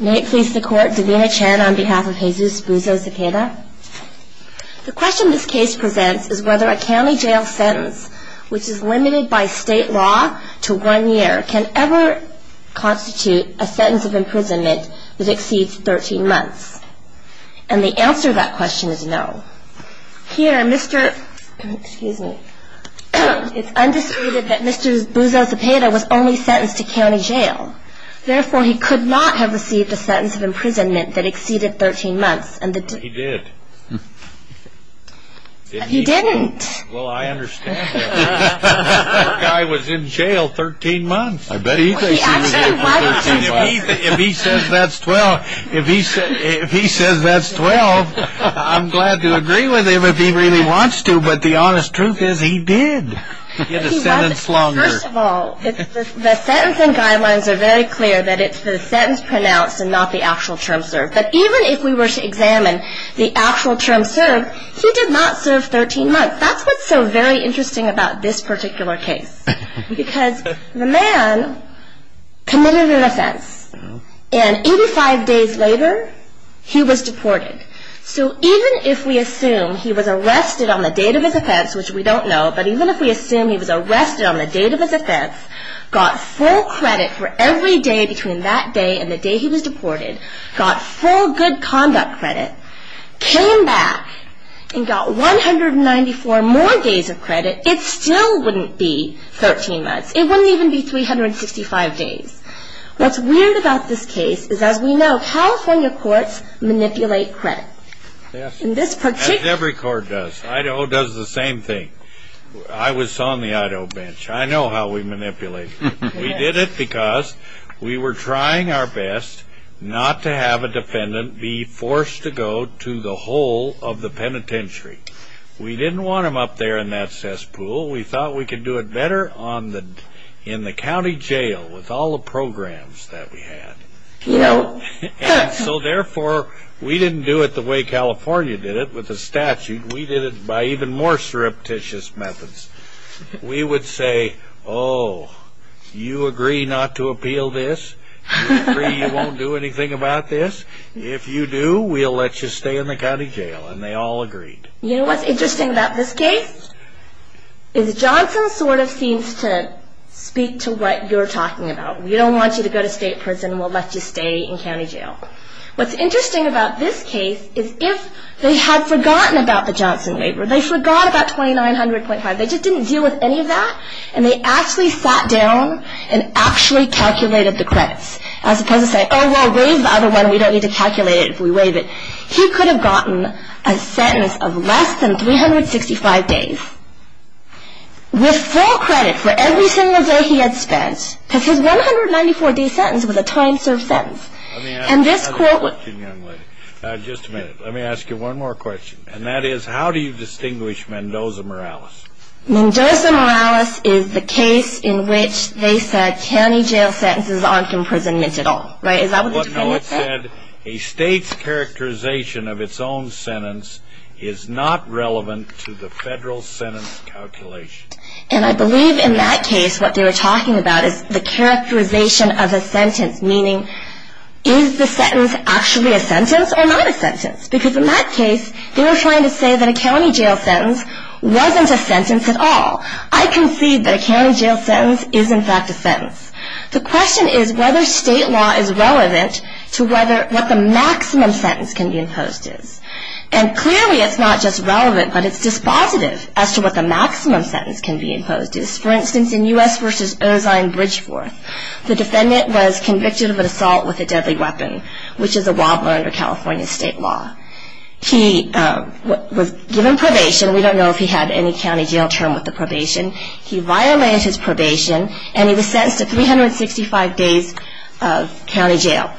May it please the court, Davina Chen on behalf of Jesus Buzo-Zepeda. The question this case presents is whether a county jail sentence, which is limited by state law to one year, can ever constitute a sentence of imprisonment that exceeds 13 months. And the answer to that question is no. Here, Mr. — excuse me — it's undisputed that Mr. Buzo-Zepeda was only sentenced to county jail. Therefore, he could not have received a sentence of imprisonment that exceeded 13 months. He did. He didn't. Well, I understand that. That guy was in jail 13 months. I bet he thinks he was in jail for 13 months. If he says that's 12, I'm glad to agree with him if he really wants to, but the honest truth is he did get a sentence longer. First of all, the sentencing guidelines are very clear that it's the sentence pronounced and not the actual term served. But even if we were to examine the actual term served, he did not serve 13 months. That's what's so very interesting about this particular case, because the man committed an offense, and 85 days later, he was deported. So even if we assume he was arrested on the date of his offense, which we don't know, but even if we assume he was arrested on the date of his offense, got full credit for every day between that day and the day he was deported, got full good conduct credit, came back and got 194 more days of credit, it still wouldn't be 13 months. It wouldn't even be 365 days. What's weird about this case is, as we know, California courts manipulate credit. Every court does. Idaho does the same thing. I was on the Idaho bench. I know how we manipulate. We did it because we were trying our best not to have a defendant be forced to go to the hole of the penitentiary. We didn't want him up there in that cesspool. We thought we could do it better in the county jail with all the programs that we had. So therefore, we didn't do it the way California did it with the statute. We did it by even more surreptitious methods. We would say, oh, you agree not to appeal this? You agree you won't do anything about this? If you do, we'll let you stay in the county jail, and they all agreed. You know what's interesting about this case? Is Johnson sort of seems to speak to what you're talking about. We don't want you to go to state prison, and we'll let you stay in county jail. What's interesting about this case is if they had forgotten about the Johnson waiver, they forgot about 2900.5, they just didn't deal with any of that, and they actually sat down and actually calculated the credits, as opposed to saying, oh, we'll waive the other one. We don't need to calculate it if we waive it. He could have gotten a sentence of less than 365 days with full credit for every single day he had spent because his 194-day sentence was a time-served sentence. Let me ask you one more question, young lady. Just a minute. Let me ask you one more question, and that is how do you distinguish Mendoza-Morales? Mendoza-Morales is the case in which they said county jail sentences aren't imprisoned at all, right? Is that what they're talking about there? No, it said a state's characterization of its own sentence is not relevant to the federal sentence calculation. And I believe in that case what they were talking about is the characterization of a sentence, meaning is the sentence actually a sentence or not a sentence? Because in that case, they were trying to say that a county jail sentence wasn't a sentence at all. I concede that a county jail sentence is, in fact, a sentence. The question is whether state law is relevant to what the maximum sentence can be imposed is. And clearly it's not just relevant, but it's dispositive as to what the maximum sentence can be imposed is. For instance, in U.S. v. Ozine Bridgeforth, the defendant was convicted of an assault with a deadly weapon, which is a robber under California state law. He was given probation. We don't know if he had any county jail term with the probation. He violated his probation, and he was sentenced to 365 days of county jail.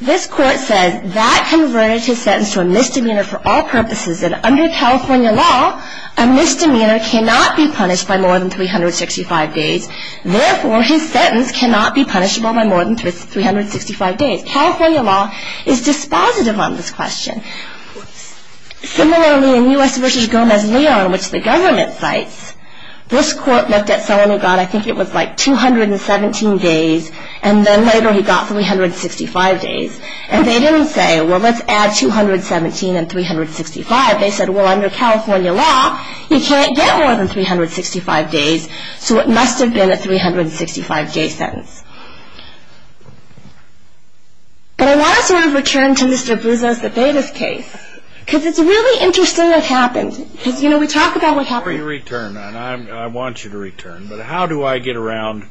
This court says that converted his sentence to a misdemeanor for all purposes, and under California law, a misdemeanor cannot be punished by more than 365 days. Therefore, his sentence cannot be punishable by more than 365 days. California law is dispositive on this question. Similarly, in U.S. v. Gomez-Leon, which the government cites, this court looked at someone who got, I think it was like, 217 days, and then later he got 365 days. And they didn't say, well, let's add 217 and 365. They said, well, under California law, he can't get more than 365 days, so it must have been a 365-day sentence. But I want to sort of return to Mr. Buzo's Tabetis case, because it's really interesting what happened. Because, you know, we talk about what happened. Before you return, and I want you to return, but how do I get around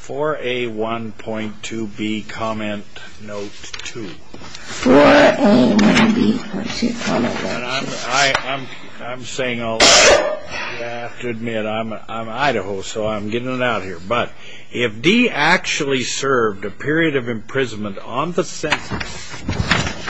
4A1.2B comment note 2? 4A1.2B comment note 2. I'm saying I'll have to admit, I'm Idaho, so I'm getting it out here. But if D actually served a period of imprisonment on the sentence,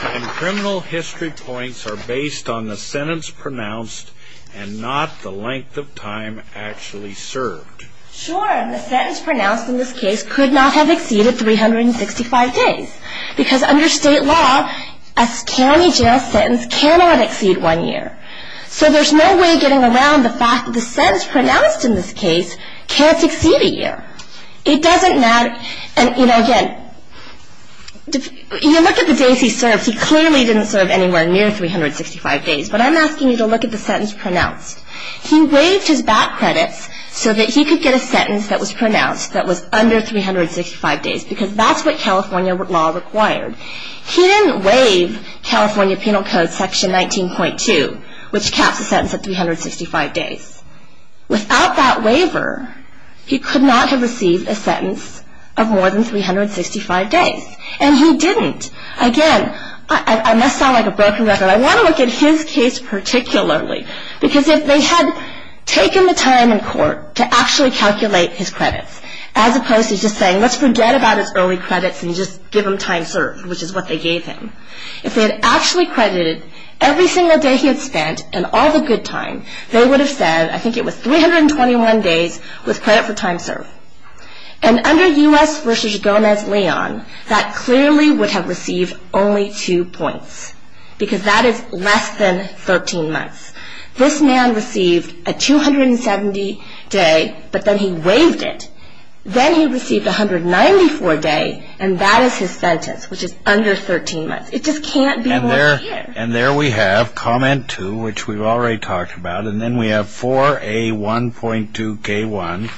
And criminal history points are based on the sentence pronounced and not the length of time actually served. Sure, and the sentence pronounced in this case could not have exceeded 365 days. Because under state law, a county jail sentence cannot exceed one year. So there's no way getting around the fact that the sentence pronounced in this case can't exceed a year. It doesn't matter, and you know, again, you look at the days he served, he clearly didn't serve anywhere near 365 days. But I'm asking you to look at the sentence pronounced. He waived his back credits so that he could get a sentence that was pronounced that was under 365 days. Because that's what California law required. He didn't waive California Penal Code section 19.2, which caps the sentence at 365 days. Without that waiver, he could not have received a sentence of more than 365 days. And he didn't. Again, I must sound like a broken record. I want to look at his case particularly. Because if they had taken the time in court to actually calculate his credits, as opposed to just saying let's forget about his early credits and just give him time served, which is what they gave him. If they had actually credited every single day he had spent and all the good time, they would have said, I think it was 321 days was credit for time served. And under U.S. v. Gomez-Leon, that clearly would have received only two points. Because that is less than 13 months. This man received a 270 day, but then he waived it. Then he received 194 days, and that is his sentence, which is under 13 months. It just can't be more than that. And there we have comment 2, which we've already talked about. And then we have 4A1.2K1,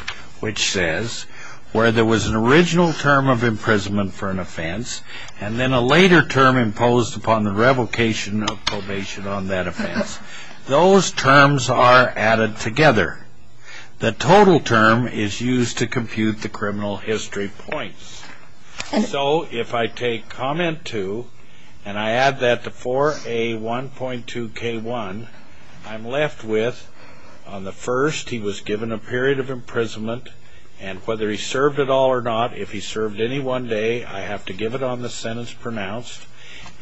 which says, where there was an original term of imprisonment for an offense, and then a later term imposed upon the revocation of probation on that offense. Those terms are added together. The total term is used to compute the criminal history points. So if I take comment 2, and I add that to 4A1.2K1, I'm left with, on the first, he was given a period of imprisonment, and whether he served at all or not, if he served any one day, I have to give it on the sentence pronounced.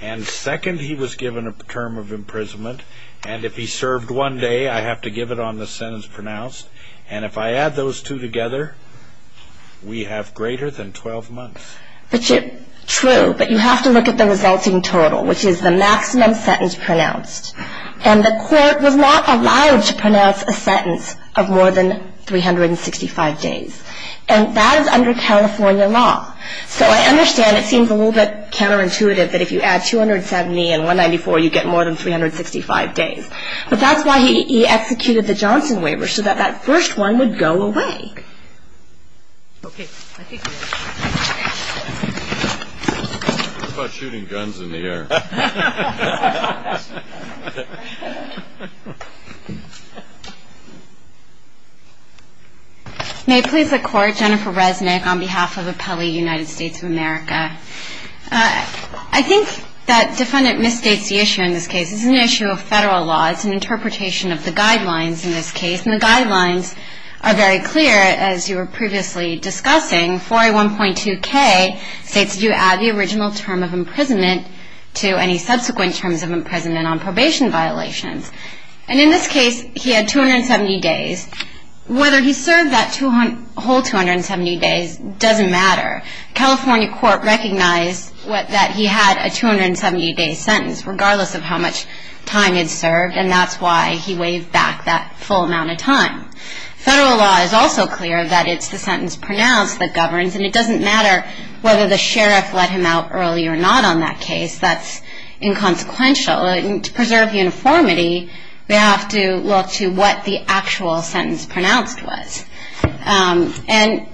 And second, he was given a term of imprisonment, and if he served one day, I have to give it on the sentence pronounced. And if I add those two together, we have greater than 12 months. True, but you have to look at the resulting total, which is the maximum sentence pronounced. And the court was not allowed to pronounce a sentence of more than 365 days. And that is under California law. So I understand it seems a little bit counterintuitive that if you add 270 and 194, you get more than 365 days. But that's why he executed the Johnson waiver, so that that first one would go away. Okay. It's about shooting guns in the air. May it please the Court, Jennifer Resnick on behalf of Appellee United States of America. I think that defendant misstates the issue in this case. This is an issue of Federal law. It's an interpretation of the guidelines in this case. And the guidelines are very clear, as you were previously discussing. 4A1.2K states that you add the original term of imprisonment to the term of imprisonment on probation violations. And in this case, he had 270 days. Whether he served that whole 270 days doesn't matter. California court recognized that he had a 270-day sentence, regardless of how much time he'd served. And that's why he waived back that full amount of time. Federal law is also clear that it's the sentence pronounced that governs. And it doesn't matter whether the sheriff let him out early or not on that case. That's inconsequential. And to preserve uniformity, we have to look to what the actual sentence pronounced was. And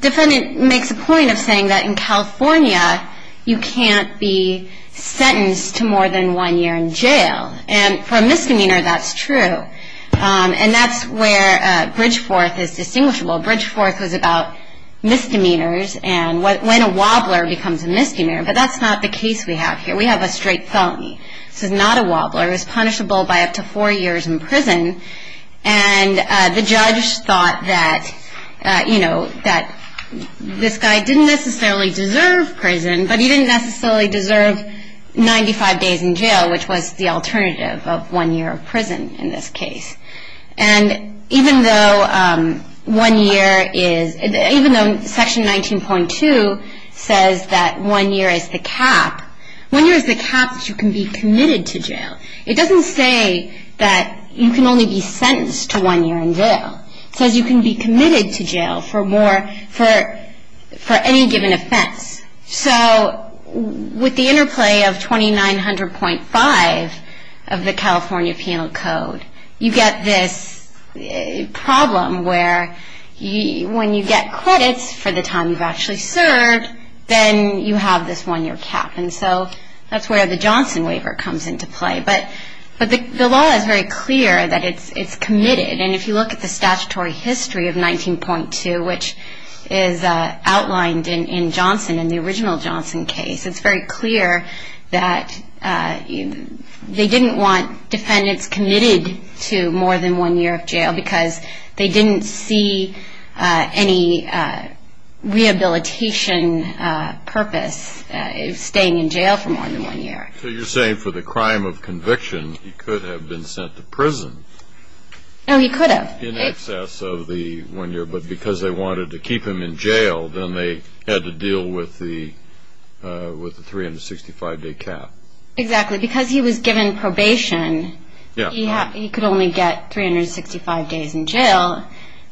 defendant makes a point of saying that in California, you can't be sentenced to more than one year in jail. And for a misdemeanor, that's true. And that's where Bridgeforth is distinguishable. Bridgeforth was about misdemeanors and when a wobbler becomes a misdemeanor. But that's not the case we have here. We have a straight felony. This is not a wobbler. It's punishable by up to four years in prison. And the judge thought that, you know, that this guy didn't necessarily deserve prison. But he didn't necessarily deserve 95 days in jail, which was the alternative of one year of prison in this case. And even though one year is, even though Section 19.2 says that one year is the cap, one year is the cap that you can be committed to jail. It doesn't say that you can only be sentenced to one year in jail. It says you can be committed to jail for more, for any given offense. So with the interplay of 2900.5 of the California Penal Code, you get this problem where when you get credits for the time you've actually served, then you have this one year cap. And so that's where the Johnson waiver comes into play. But the law is very clear that it's committed. And if you look at the statutory history of 19.2, which is outlined in Johnson, in the original Johnson case, it's very clear that they didn't want defendants committed to more than one year of jail because they didn't see any rehabilitation purpose staying in jail for more than one year. So you're saying for the crime of conviction, he could have been sent to prison. No, he could have. In excess of the one year, but because they wanted to keep him in jail, then they had to deal with the 365-day cap. Exactly. Because he was given probation, he could only get 365 days in jail.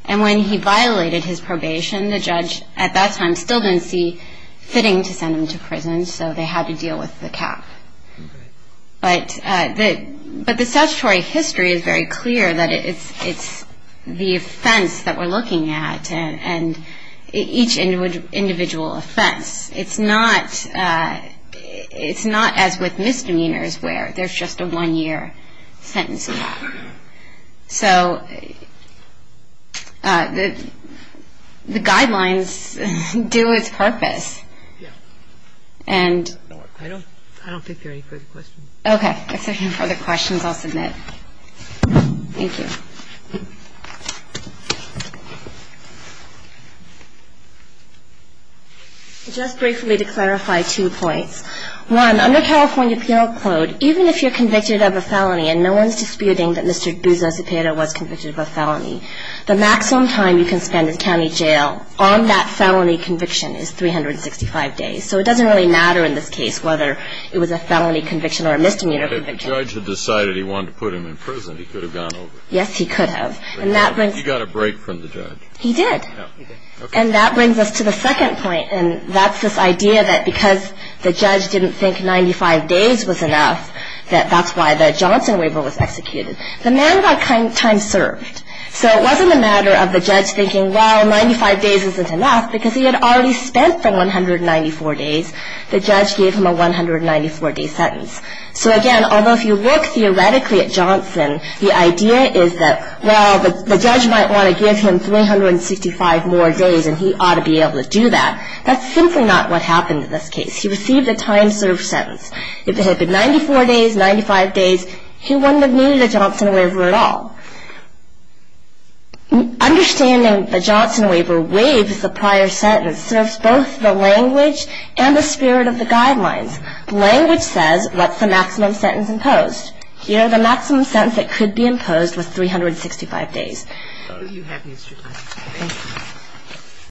And when he violated his probation, so they had to deal with the cap. But the statutory history is very clear that it's the offense that we're looking at, and each individual offense. It's not as with misdemeanors where there's just a one-year sentence cap. So the guidelines do its purpose. I don't think there are any further questions. Okay. If there are no further questions, I'll submit. Thank you. Just briefly to clarify two points. One, under California Penal Code, even if you're convicted of a felony and no one's disputing that Mr. Guzman Cepeda was convicted of a felony, the maximum time you can spend in county jail on that felony conviction is 365 days. So it doesn't really matter in this case whether it was a felony conviction or a misdemeanor conviction. If the judge had decided he wanted to put him in prison, he could have gone over. Yes, he could have. You got a break from the judge. He did. And that brings us to the second point, and that's this idea that because the judge didn't think 95 days was enough, that that's why the Johnson waiver was executed. The man got time served. So it wasn't a matter of the judge thinking, well, 95 days isn't enough, because he had already spent the 194 days. The judge gave him a 194-day sentence. So, again, although if you look theoretically at Johnson, the idea is that, well, the judge might want to give him 365 more days, and he ought to be able to do that. That's simply not what happened in this case. He received a time-served sentence. If it had been 94 days, 95 days, he wouldn't have needed a Johnson waiver at all. Understanding the Johnson waiver waives the prior sentence, serves both the language and the spirit of the guidelines. Language says what's the maximum sentence imposed. Here, the maximum sentence that could be imposed was 365 days.